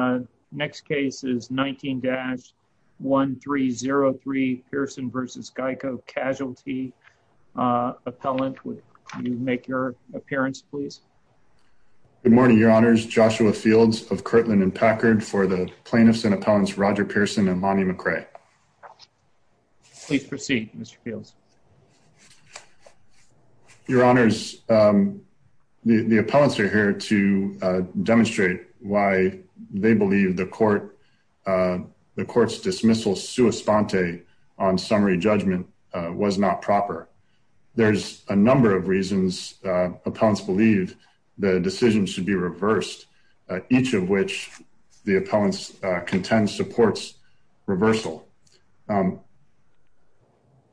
Uh, next case is 19-1303 Pearson v Geico Casualty. Uh, appellant, would you make your appearance, please? Good morning, Your Honors. Joshua Fields of Kirtland and Packard for the plaintiffs and appellants Roger Pearson and Lonnie McRae. Please proceed, Mr Fields. Thank you. Your Honors, um, the appellants are here to demonstrate why they believe the court, uh, the court's dismissal sua sponte on summary judgment was not proper. There's a number of reasons appellants believe the decision should be reversed, each of which the appellants contend supports reversal. Um,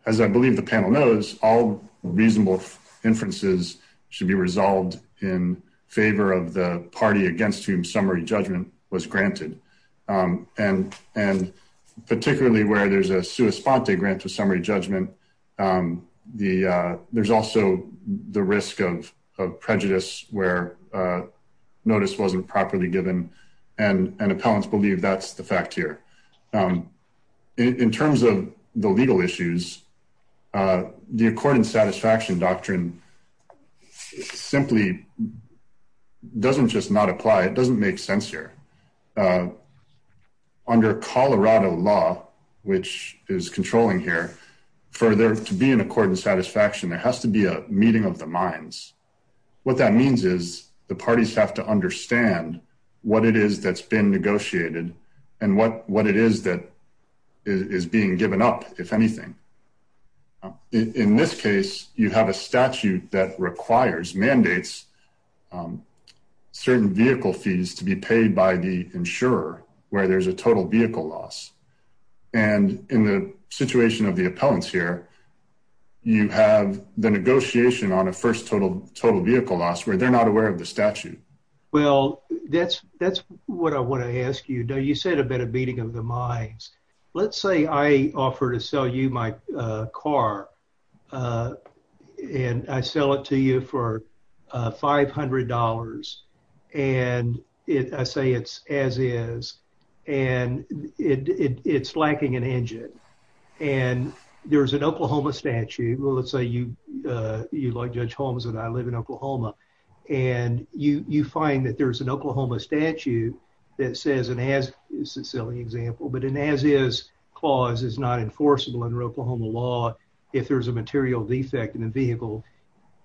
as I believe the panel knows, all reasonable inferences should be resolved in favor of the party against whom summary judgment was granted. Um, and and particularly where there's a sua sponte grant to summary judgment. Um, the there's also the risk of prejudice where, uh, notice wasn't properly given, and appellants believe that's the fact here. Um, in terms of the legal issues, uh, the accord in satisfaction doctrine simply doesn't just not apply. It doesn't make sense here. Uh, under Colorado law, which is controlling here for there to be an accord in satisfaction, there has to be a meeting of the minds. What that means is the parties have to understand what it is that's been negotiated and what what it is that is being given up. If anything, in this case, you have a statute that requires mandates, um, certain vehicle fees to be paid by the insurer where there's a total vehicle loss. And in the situation of the appellants here, you have the negotiation on a first total total vehicle loss where they're not aware of the statute. Well, that's that's what I want to ask you. Don't you said a bit of beating of the minds? Let's say I offer to sell you my car, uh, and I sell it to you for $500. And I say it's as is, and it's lacking an engine. And there's an Oklahoma statute. Well, let's say you, uh, you like Judge Holmes and I live in Oklahoma, and you find that there's an Oklahoma statute that says and has a silly example. But in as is clause is not enforceable in Oklahoma law if there's a material defect in the vehicle,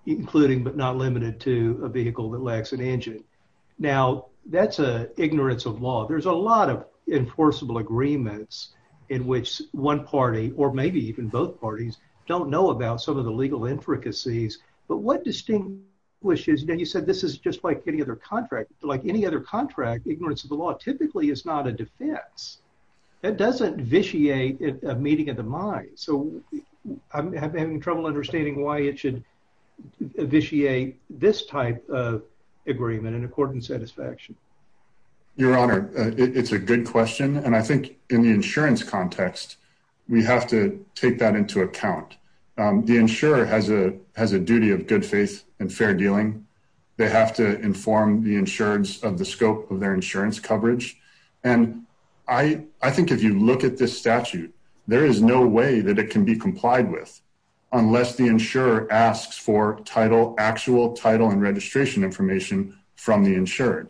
including but not limited to a vehicle that lacks an engine. Now that's a ignorance of law. There's a lot of enforceable agreements in which one party or maybe even both parties don't know about some of the legal intricacies. But what distinct wishes that you said this is just like any other contract, like any other contract. Ignorance of the law typically is not a defense that doesn't vitiate a meeting of the mind. So I'm having trouble understanding why it should vitiate this type of agreement in accordance satisfaction. Your Honor, it's a good question, and I think in the insurance context, we have to take that into account. The insurer has a duty of good faith and fair dealing. They have to inform the insurance of the scope of their insurance coverage. And I I think if you look at this statute, there is no way that it could be complied with unless the insurer asks for title, actual title and registration information from the insured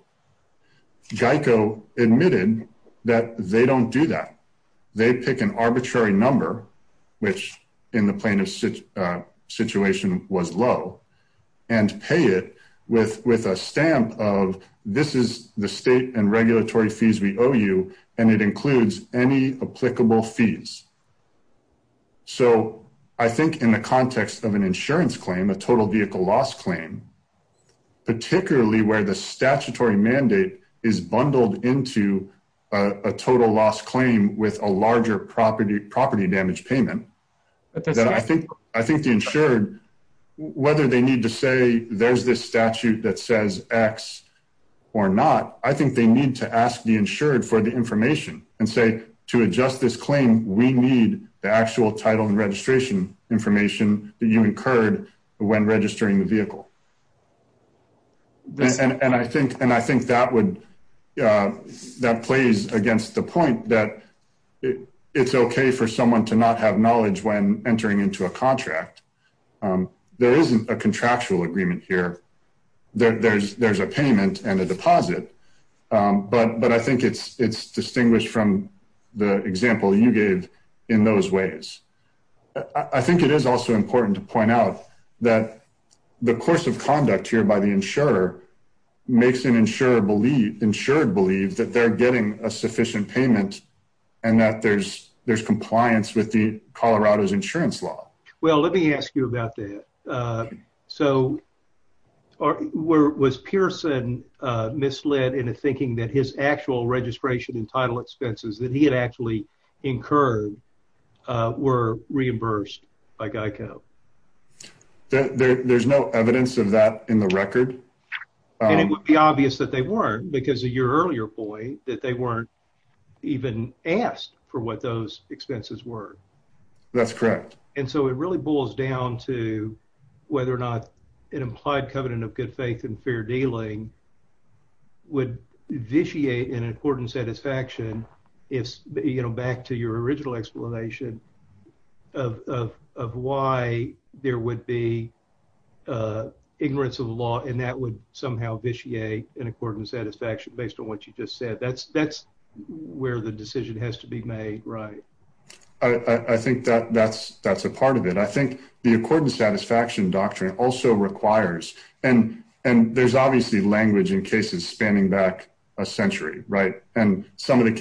Geico admitted that they don't do that. They pick an arbitrary number, which in the plaintiff's situation was low and pay it with with a stamp of this is the state and regulatory fees we owe you, and it includes any applicable fees. So I think in the context of an insurance claim, a total vehicle loss claim, particularly where the statutory mandate is bundled into a total loss claim with a larger property property damage payment that I think I think the insured whether they need to say there's this statute that says X or not, I think they need to ask the insured for the information and say to adjust this claim. We need the actual title and registration information that you incurred when registering the vehicle. And I think and I think that would, uh, that plays against the point that it's okay for someone to not have knowledge when entering into a contract. Um, there isn't a contractual agreement here. There's there's a payment and a deposit. Um, but but I think it's it's distinguished from the example you gave in those ways. I think it is also important to point out that the course of conduct here by the insurer makes an insurer believe insured believe that they're getting a sufficient payment and that there's there's compliance with the Colorado's insurance law. Well, let me ask you about that. Uh, so where was Pearson misled into thinking that his actual registration and title expenses that he had actually incurred were reimbursed by Geico? There's no evidence of that in the record, and it would be obvious that they weren't because of your earlier point that they weren't even asked for what those expenses were. That's correct. And so it really boils down to whether or not an implied covenant of good faith and fair dealing would vitiate an important satisfaction. If you know, back to your original explanation of of why there would be, uh, ignorance of the law, and that would somehow vitiate an important satisfaction based on what you just said. That's that's where the decision has to be made, right? I think that that's that's a part of it. I think the accordance satisfaction doctrine also requires and and there's obviously language in cases spanning back a little bit, and some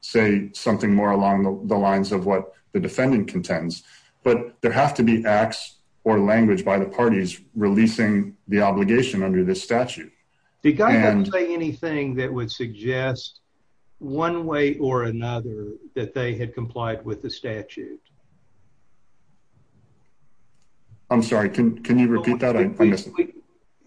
say something more along the lines of what the defendant contends. But there have to be acts or language by the parties releasing the obligation under this statute. The guy didn't say anything that would suggest one way or another that they had complied with the statute. I'm sorry. Can can you repeat that?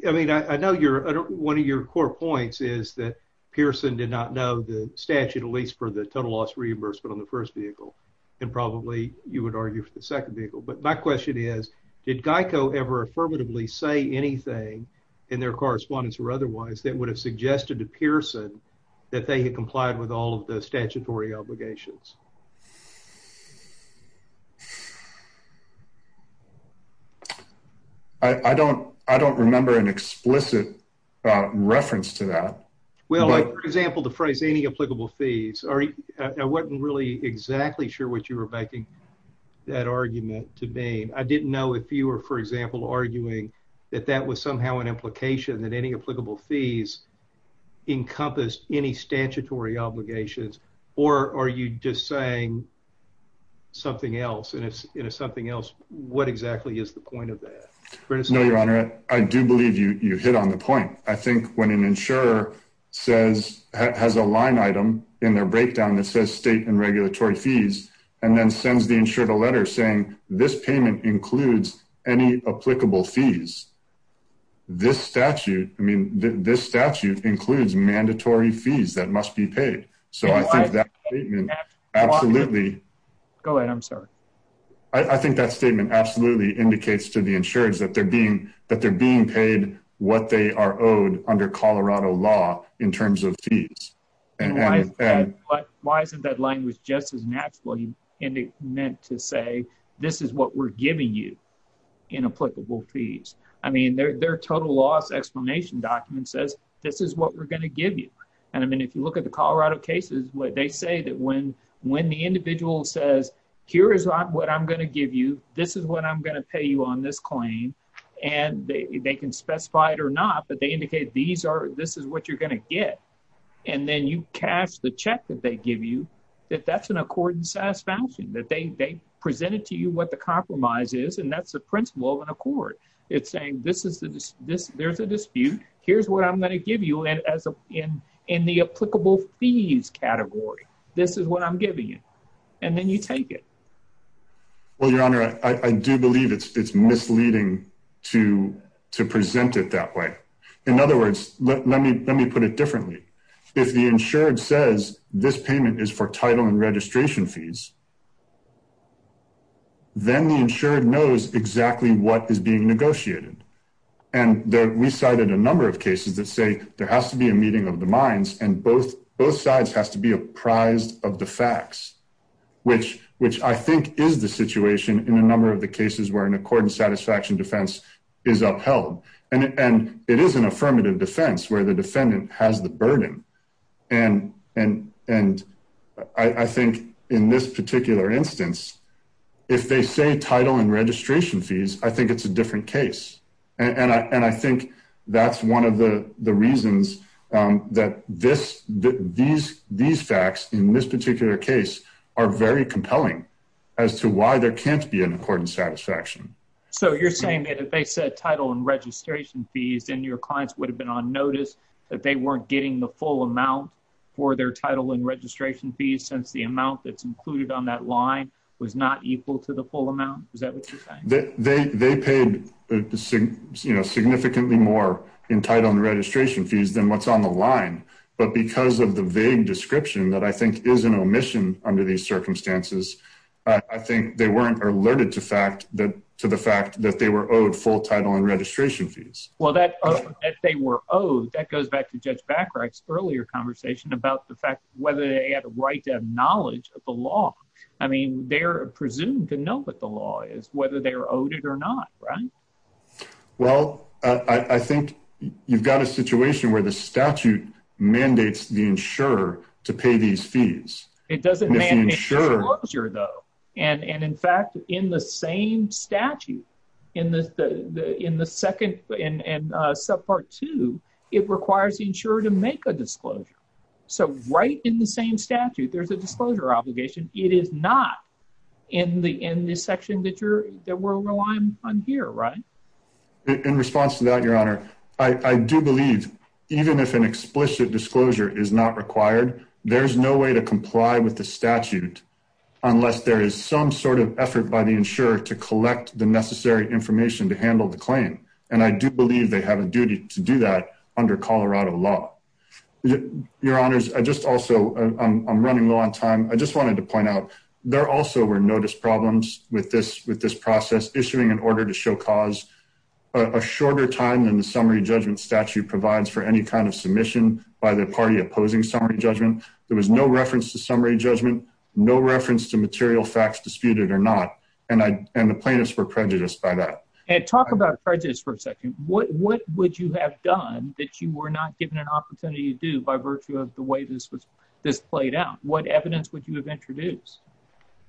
I mean, I know you're one of your core points is that Pearson did not know the statute, at least for the total loss reimbursement on the first vehicle, and probably you would argue for the second vehicle. But my question is, did Geico ever affirmatively say anything in their correspondence or otherwise that would have suggested to Pearson that they had complied with all of the statutory obligations? I don't. I don't remember an explicit reference to that. Well, for example, the phrase any applicable fees are I wasn't really exactly sure what you were making that argument to be. I didn't know if you were, for example, arguing that that was somehow an implication that any applicable fees encompass any saying something else, and it's something else. What exactly is the point of that? No, Your Honor, I do believe you hit on the point. I think when an insurer says has a line item in their breakdown that says state and regulatory fees and then sends the insured a letter saying this payment includes any applicable fees. This statute. I mean, this statute includes mandatory fees that must be paid. So I think that absolutely go ahead. I'm sorry. I think that statement absolutely indicates to the insurance that they're being that they're being paid what they are owed under Colorado law in terms of fees. And why isn't that line was just as naturally meant to say this is what we're giving you in applicable fees. I mean, their total loss explanation document says this is what we're gonna give you. And I mean, if you look at the Colorado cases, what they say that when when the individual says here is not what I'm gonna give you. This is what I'm gonna pay you on this claim, and they can specify it or not. But they indicate these are this is what you're gonna get. And then you cash the check that they give you that that's an accord and satisfaction that they presented to you what the compromise is. And that's the principle of an accord. It's saying this is this there's a dispute. Here's what I'm gonna give you. And as in in the applicable fees category, this is what I'm giving you. And then you take it. Well, Your Honor, I do believe it's misleading to present it that way. In other words, let me put it differently. If the insured says this payment is for title and registration fees, then the insured knows exactly what is being negotiated. And we cited a number of cases that say there has to be a meeting of the minds, and both both sides has to be apprised of the facts, which which I think is the situation in a number of the cases where an accord and satisfaction defense is upheld. And it is an affirmative defense where the defendant has the burden. And and and I think in this particular instance, if they say title and registration fees, I think it's a different case. And I think that's one of the reasons that this these these facts in this particular case are very compelling as to why there can't be an accord and satisfaction. So you're saying that if they said title and registration fees and your clients would have been on notice that they weren't getting the full amount for their title and the amount that's included on that line was not equal to the full amount? Is that what you're saying? They paid, you know, significantly more entitled registration fees than what's on the line. But because of the vague description that I think is an omission under these circumstances, I think they weren't alerted to fact that to the fact that they were owed full title and registration fees. Well, that they were owed. That goes back to Judge Bacharach's earlier conversation about the fact whether they had a right to knowledge of the law. I mean, they're presumed to know what the law is, whether they're owed it or not, right? Well, I think you've got a situation where the statute mandates the insurer to pay these fees. It doesn't ensure though. And in fact, in the same statute in the in the second and sub part two, it requires the insurer to make a disclosure. So right in the same statute, there's a disclosure obligation. It is not in the in this section that you're that we're relying on here, right? In response to that, Your Honor, I do believe even if an explicit disclosure is not required, there's no way to comply with the statute unless there is some sort of effort by the insurer to collect the necessary information to handle the claim. And I do believe they have a duty to do that under Colorado law. Your honors, I just also I'm running low on time. I just wanted to point out there also were notice problems with this with this process issuing an order to show cause a shorter time than the summary judgment statute provides for any kind of submission by the party opposing summary judgment. There was no reference to summary judgment, no reference to material facts disputed or not. And I and the plaintiffs were prejudiced by that. And talk about prejudice for a second. What would you have done that you were not given an opportunity to do by virtue of the way this was this played out? What evidence would you have introduced?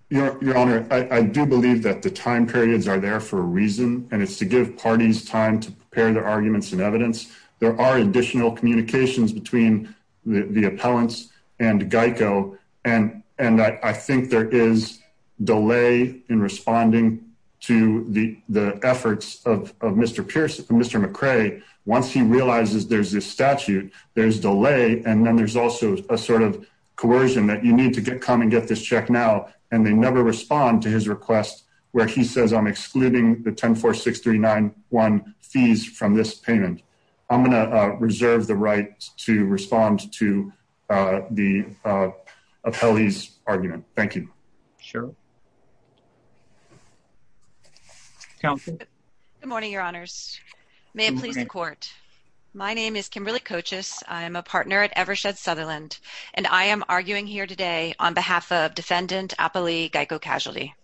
Your Honor, I do believe that the time periods are there for a reason, and it's to give parties time to prepare their arguments and evidence. There are additional communications between the appellants and Geico, and I think there is delay in responding to the efforts of Mr. Pierce. Mr. McCray. Once he realizes there's this statute, there's delay, and then there's also a sort of coercion that you need to get come and get this check now, and they never respond to his request where he says I'm excluding the 1046391 fees from this payment. I'm gonna reserve the right to respond to, uh, the, uh, appellees argument. Thank you. Sure. Yeah. Good morning, Your Honors. May it please the court. My name is Kimberly Coaches. I'm a partner at Evershed Sutherland, and I am arguing here today on behalf of defendant Appali Geico Casualty.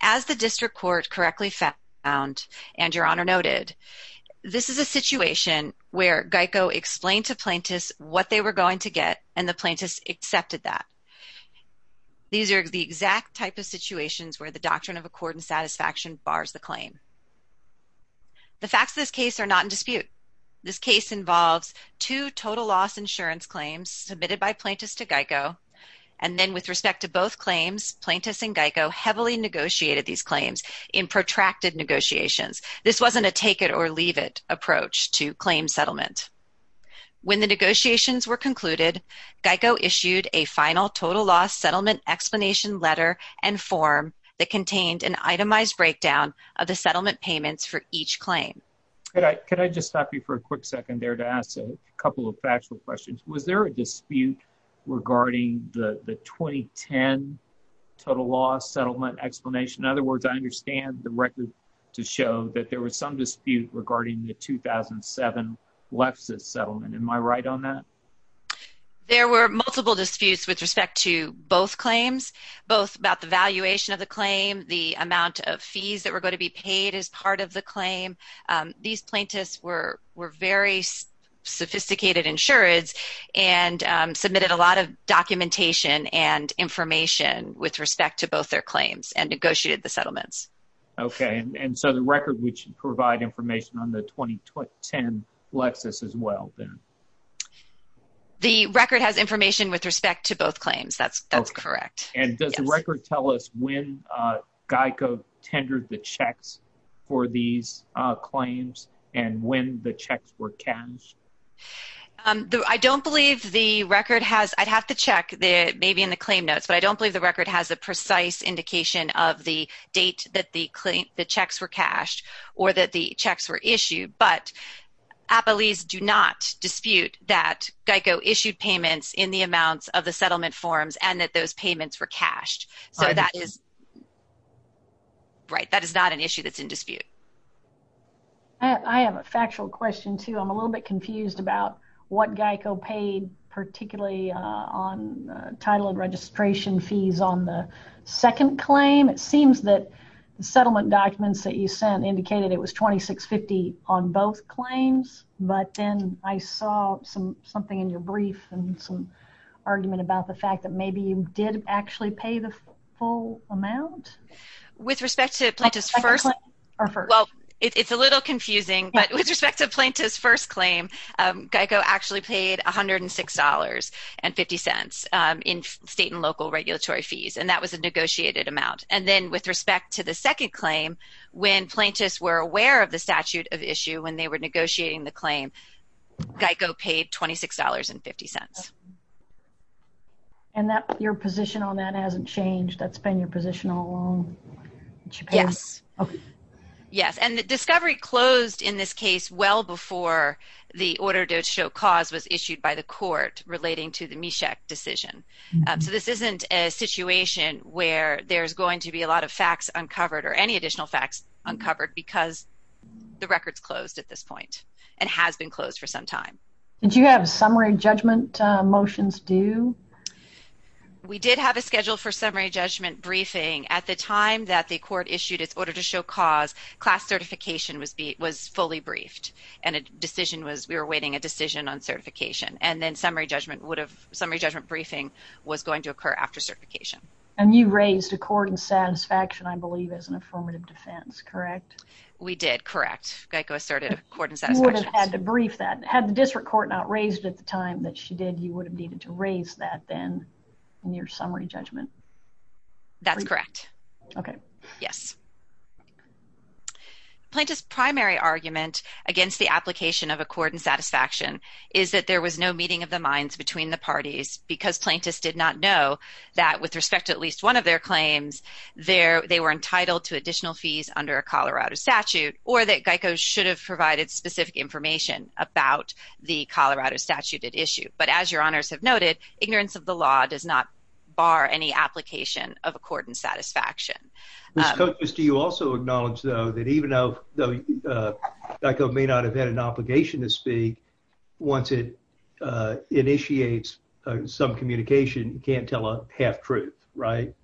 As the district court correctly found and your honor noted, this is a situation where Geico explained to plaintiffs what they were going to get, and the plaintiffs accepted that these are the exact type of situations where the doctrine of accord and satisfaction bars the claim. The facts of this case are not in dispute. This case involves two total loss insurance claims submitted by plaintiffs to Geico, and then, with respect to both claims, plaintiffs and Geico heavily negotiated these claims in protracted negotiations. This wasn't a take it or leave it approach to final total loss settlement explanation letter and form that contained an itemized breakdown of the settlement payments for each claim. Could I just stop you for a quick second there to ask a couple of factual questions? Was there a dispute regarding the 2010 total loss settlement explanation? In other words, I understand the record to show that there was some dispute regarding the 2007 Lexus settlement. Am I right on that? There were multiple disputes with respect to both claims, both about the valuation of the claim, the amount of fees that were going to be paid as part of the claim. These plaintiffs were very sophisticated insured and submitted a lot of documentation and information with respect to both their claims and negotiated the settlements. Okay, and so the record which provide information on the 2010 Lexus as well. The record has information with respect to both claims. That's that's correct. And does the record tell us when Geico tendered the checks for these claims and when the checks were cashed? Um, I don't believe the record has. I'd have to check the maybe in the claim notes, but I don't believe the record has a precise indication of the date that the claim the checks were cashed or that the checks were issued. But capillaries do not dispute that Geico issued payments in the amounts of the settlement forms and that those payments were cashed. So that is right. That is not an issue that's in dispute. I have a factual question, too. I'm a little bit confused about what Geico paid, particularly on title and registration fees on the second claim. It seems that the settlement documents that you sent indicated it was 2650 on both claims. But then I saw something in your brief and some argument about the fact that maybe you did actually pay the full amount with respect to plaintiff's first. Well, it's a little confusing, but with respect to plaintiff's first claim, Geico actually paid 106 dollars and 50 cents in state and local regulatory fees, and that was a negotiated amount. And then with respect to the second claim, when plaintiffs were aware of the statute of issue, when they were negotiating the claim, Geico paid 26 dollars and 50 cents. And your position on that hasn't changed? That's been your position all along? Yes. Yes. And the discovery closed in this case well before the order to show cause was issued by the court relating to the MESHEC decision. So this isn't a fact uncovered or any additional facts uncovered because the record's closed at this point and has been closed for some time. Did you have summary judgment motions due? We did have a schedule for summary judgment briefing. At the time that the court issued its order to show cause, class certification was fully briefed and a decision was, we were awaiting a decision on certification, and then summary judgment would have, summary judgment briefing was going to occur after certification. And you raised accord and satisfaction, I believe, as an affirmative defense, correct? We did, correct. Geico asserted accord and satisfaction. You would have had to brief that. Had the district court not raised at the time that she did, you would have needed to raise that then in your summary judgment. That's correct. Okay. Yes. Plaintiff's primary argument against the application of accord and satisfaction is that there was no meeting of the minds between the parties because plaintiffs did not know that, with respect to at least one of their claims, they were entitled to additional fees under a Colorado statute, or that Geico should have provided specific information about the Colorado statute at issue. But as your honors have noted, ignorance of the law does not bar any application of accord and satisfaction. Ms. Coates, do you also acknowledge, though, that even though Geico may not have had an obligation to speak, once it initiates some communication, you can't tell a half-truth, right?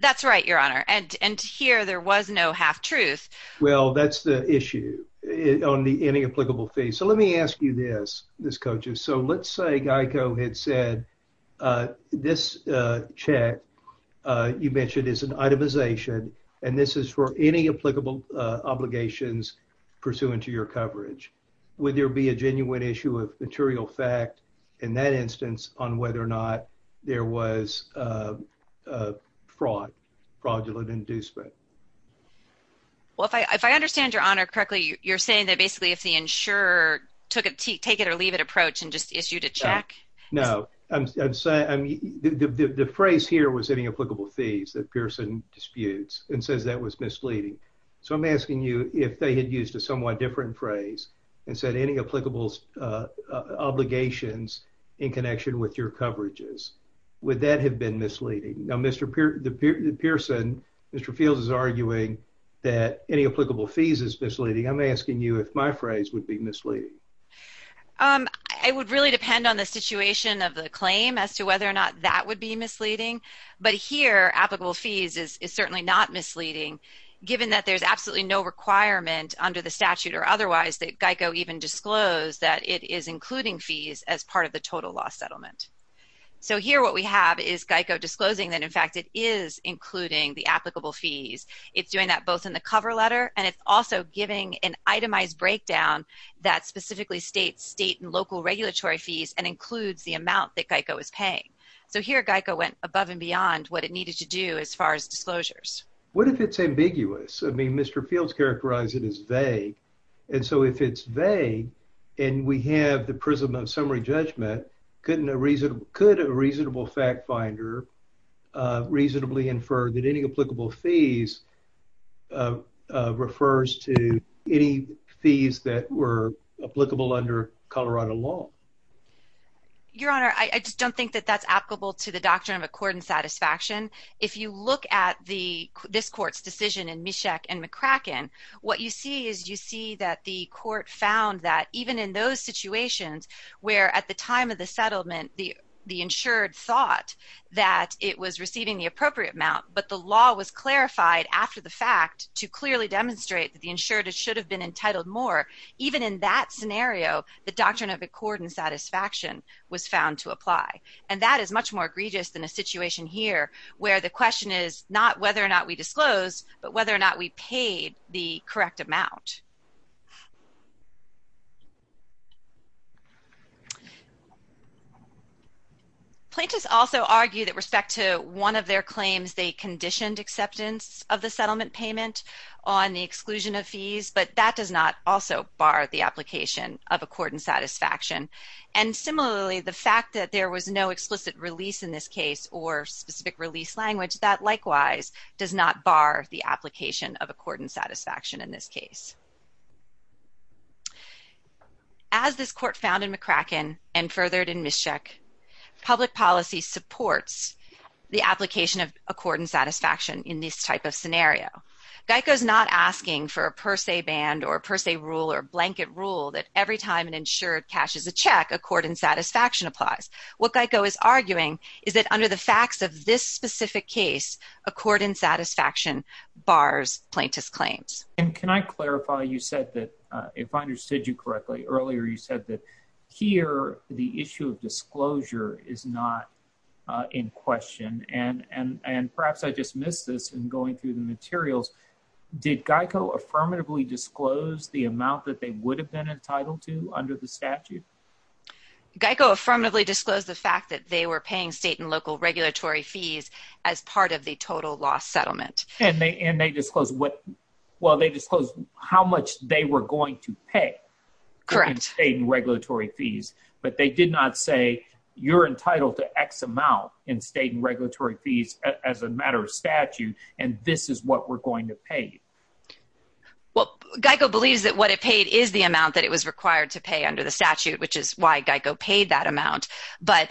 That's right, your honor. And here there was no half-truth. Well, that's the issue on the any applicable fee. So let me ask you this, Ms. Coates. So let's say Geico had said, this check you mentioned is an itemization, and this is for any applicable obligations pursuant to your coverage. Would there be a genuine issue of material fact in that instance on whether or not there was fraud, fraudulent inducement? Well, if I understand your honor correctly, you're saying that basically if the insurer took a take-it-or-leave-it approach and just issued a check? No, I'm saying the phrase here was any applicable fees that Pearson disputes and says that was misleading. So I'm asking you if they had used a somewhat different phrase and said any applicable obligations in connection with your coverages. Would that have been misleading? Now, Mr. Pearson, Mr. Fields is arguing that any applicable fees is misleading. I'm asking you if my phrase would be misleading. I would really depend on the situation of the claim as to whether or not that would be misleading, but here applicable fees is certainly not misleading given that there's absolutely no requirement under the statute or otherwise that GEICO even disclosed that it is including fees as part of the total loss settlement. So here what we have is GEICO disclosing that in fact it is including the applicable fees. It's doing that both in the cover letter and it's also giving an itemized breakdown that specifically states state and local regulatory fees and includes the amount that GEICO is paying. So here GEICO went above and Mr. Fields characterized it as vague and so if it's vague and we have the prism of summary judgment, couldn't a reasonable fact finder reasonably infer that any applicable fees refers to any fees that were applicable under Colorado law? Your honor, I just don't think that that's applicable to the doctrine of accord and satisfaction. If you look at this court's decision in Mishek and McCracken, what you see is you see that the court found that even in those situations where at the time of the settlement the insured thought that it was receiving the appropriate amount but the law was clarified after the fact to clearly demonstrate that the insured should have been entitled more, even in that scenario the doctrine of accord and satisfaction was found to apply and that is much more egregious than a situation here where the question is not whether or not we disclose but whether or not we paid the correct amount. Plaintiffs also argue that respect to one of their claims they conditioned acceptance of the settlement payment on the exclusion of fees but that does not also bar the application of accord and satisfaction and similarly the fact that there was no explicit release in this case or specific release language that likewise does not bar the application of accord and satisfaction in this case. As this court found in McCracken and furthered in Mishek, public policy supports the application of accord and satisfaction in this type of scenario. GEICO is not asking for a per se ban or per se rule or blanket rule that every time an insured cashes a check accord and satisfaction applies. What GEICO is arguing is that under the facts of this specific case accord and satisfaction bars plaintiffs claims. And can I clarify you said that if I understood you correctly earlier you said that here the issue of disclosure is not in question and and and perhaps I just missed this in going through the materials did GEICO affirmatively disclose the amount that they would have been entitled to under the statute? GEICO affirmatively disclosed the fact that they were paying state and local regulatory fees as part of the total loss settlement. And they and they disclose what well they disclose how much they were going to pay correct state and regulatory fees but they did not say you're entitled to X amount in state and regulatory fees as a matter of statute and this is what we're going to pay. Well GEICO believes that what it paid is the amount that it was required to pay under the statute which is why GEICO paid that amount but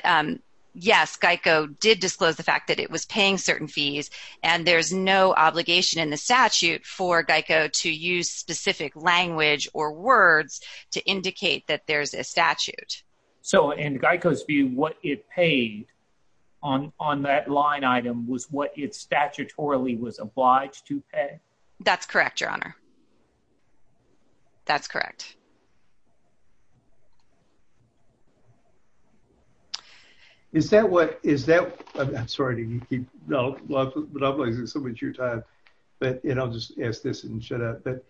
yes GEICO did disclose the fact that it was paying certain fees and there's no obligation in the statute for GEICO to use specific language or words to indicate that there's a statute. So in GEICO's view what it paid on on that line item was what it statutorily was obliged to pay? That's correct your honor that's correct. Is that what is that I'm sorry to keep you know so much your time but you know just ask this and shut up but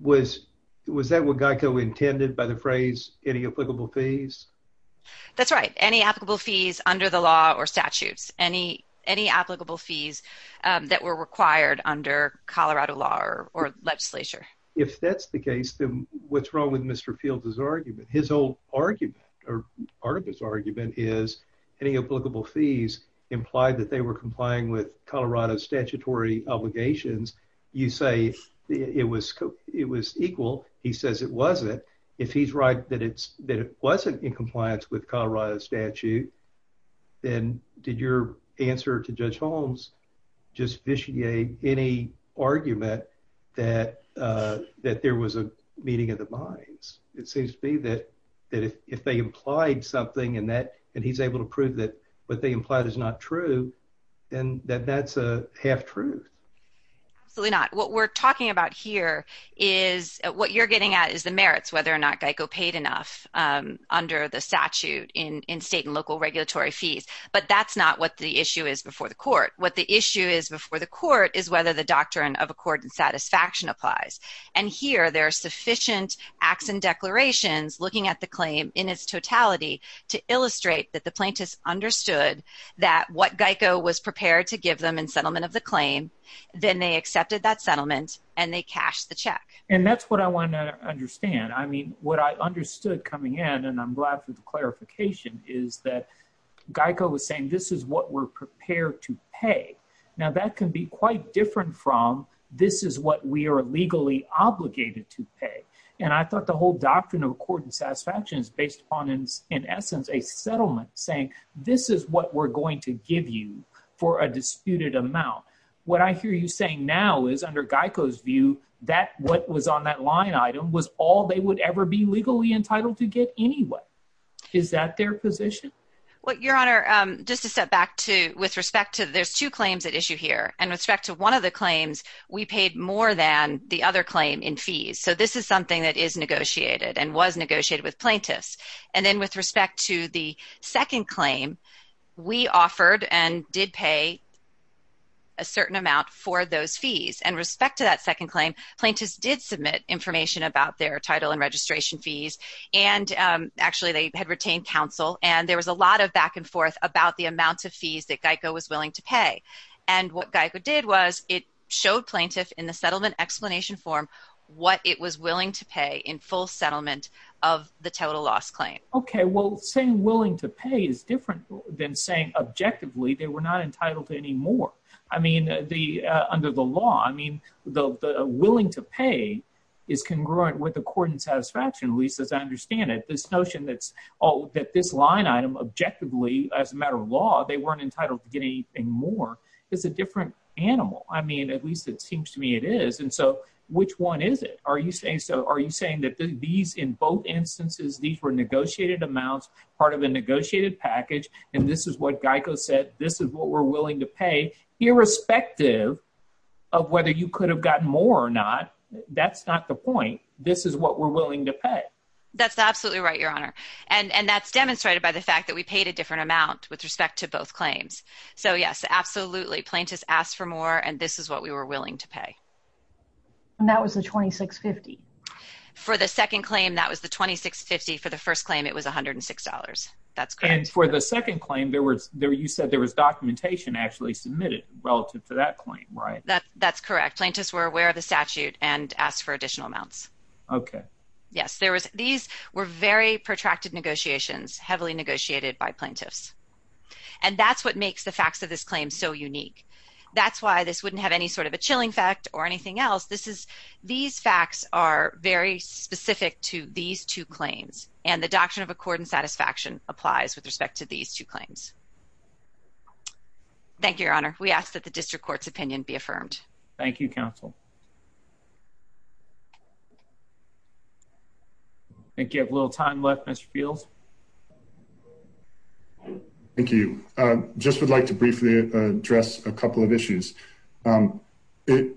was was that what GEICO intended by the phrase any applicable fees? That's right any applicable fees under the law or statutes any any applicable fees that were required under Colorado law or legislature? If that's the case then what's wrong with Mr. Fields's argument his old argument or part of his argument is any applicable fees implied that they were complying with Colorado statutory obligations you say it was it was equal he says it wasn't if he's right that it's that it wasn't in compliance with did your answer to Judge Holmes just vitiate any argument that that there was a meeting of the minds it seems to be that that if they implied something and that and he's able to prove that what they implied is not true and that that's a half truth. Absolutely not what we're talking about here is what you're getting at is the merits whether or not GEICO paid enough under the statute in state and local regulatory fees but that's not what the issue is before the court what the issue is before the court is whether the doctrine of accord and satisfaction applies and here there are sufficient acts and declarations looking at the claim in its totality to illustrate that the plaintiffs understood that what GEICO was prepared to give them in settlement of the claim then they accepted that settlement and they cashed the check. And that's what I want to understand I mean what I understood coming in and I'm glad for the is that GEICO was saying this is what we're prepared to pay now that can be quite different from this is what we are legally obligated to pay and I thought the whole doctrine of accord and satisfaction is based upon in essence a settlement saying this is what we're going to give you for a disputed amount what I hear you saying now is under GEICO's view that what was on that line item was all they would ever be legally entitled to get anyway is that their position what your honor just to set back to with respect to there's two claims at issue here and respect to one of the claims we paid more than the other claim in fees so this is something that is negotiated and was negotiated with plaintiffs and then with respect to the second claim we offered and did pay a certain amount for those fees and respect to that second claim plaintiffs did submit information about their title and registration fees and actually they had retained counsel and there was a lot of back-and-forth about the amount of fees that GEICO was willing to pay and what GEICO did was it showed plaintiff in the settlement explanation form what it was willing to pay in full settlement of the total loss claim okay well saying willing to pay is different than saying objectively they were not entitled to any more I mean the under the law I mean the willing to pay is congruent with the court and that this line item objectively as a matter of law they weren't entitled to get anything more it's a different animal I mean at least it seems to me it is and so which one is it are you saying so are you saying that these in both instances these were negotiated amounts part of a negotiated package and this is what GEICO said this is what we're willing to pay irrespective of whether you could have gotten more or not that's not the point this is what we're willing to pay that's absolutely right your honor and and that's demonstrated by the fact that we paid a different amount with respect to both claims so yes absolutely plaintiffs asked for more and this is what we were willing to pay and that was the 2650 for the second claim that was the 2650 for the first claim it was a hundred and six dollars that's good for the second claim there were there you said there was documentation actually submitted relative to that claim right that that's correct plaintiffs were aware of the statute and asked for additional amounts okay yes there was these were very protracted negotiations heavily negotiated by plaintiffs and that's what makes the facts of this claim so unique that's why this wouldn't have any sort of a chilling fact or anything else this is these facts are very specific to these two claims and the doctrine of accord and satisfaction applies with respect to these two claims thank you your honor we ask that the district courts opinion be discussed thank you have a little time left mr. Fields thank you just would like to briefly address a couple of issues it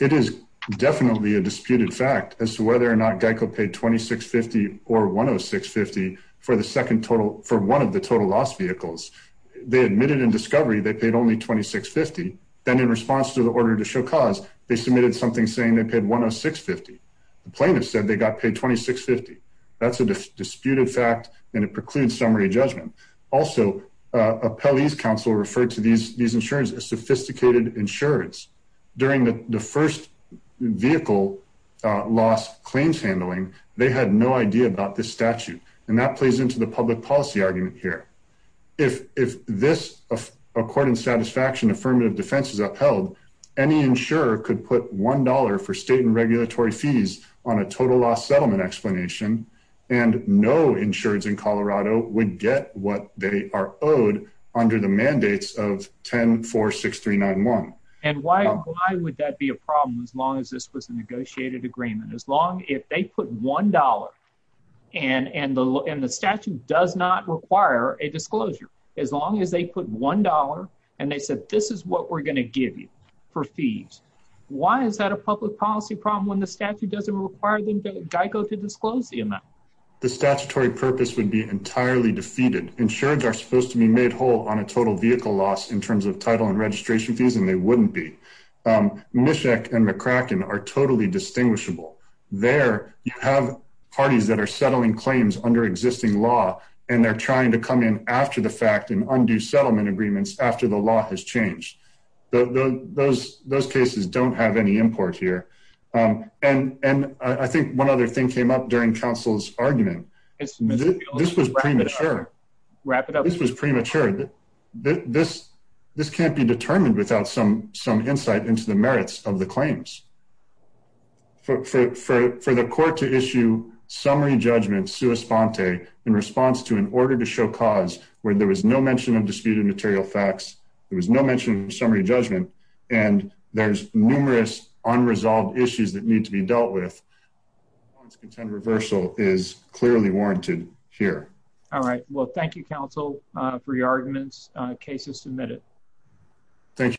it is definitely a disputed fact as to whether or not Geico paid 2650 or 106 50 for the second total for one of the total loss vehicles they admitted in discovery they paid only 26 50 then in response to the order to show cause they submitted something saying they paid 106 50 the plaintiff said they got paid 2650 that's a disputed fact and it precludes summary judgment also a police counsel referred to these these insurance as sophisticated insurance during the first vehicle loss claims handling they had no idea about this statute and that plays into the public policy argument here if if this according satisfaction affirmative defense is upheld any insurer could put $1 for state and regulatory fees on a total loss settlement explanation and no insureds in Colorado would get what they are owed under the mandates of 10 4 6 3 9 1 and why would that be a problem as long as this was a negotiated agreement as long if they put $1 and and and the statute does not require a disclosure as long as they put $1 and they said this is what we're gonna give you for fees. Why is that a public policy problem when the statute doesn't require the Geico to disclose the amount? The statutory purpose would be entirely defeated. Insurance are supposed to be made whole on a total vehicle loss in terms of title and registration fees, and they wouldn't be. Um, Mishek and McCracken are totally distinguishable. There you have parties that are settling claims under existing law, and they're trying to come in after the fact and undo settlement agreements after the law has changed. Those those cases don't have any import here. Um, and and I think one other thing came up during Council's argument. This was premature. Wrap it up. This was premature. This this can't be determined without some some insight into the merits of the claims for for for the court to issue summary judgment. Sue Esponte in response to an order to show cause where there was no mention of disputed material facts. It was no mention of summary judgment, and there's numerous unresolved issues that need to be dealt with. Content. Reversal is clearly warranted here. All right. Well, thank you, Council. Free arguments. Cases submitted. Thank you.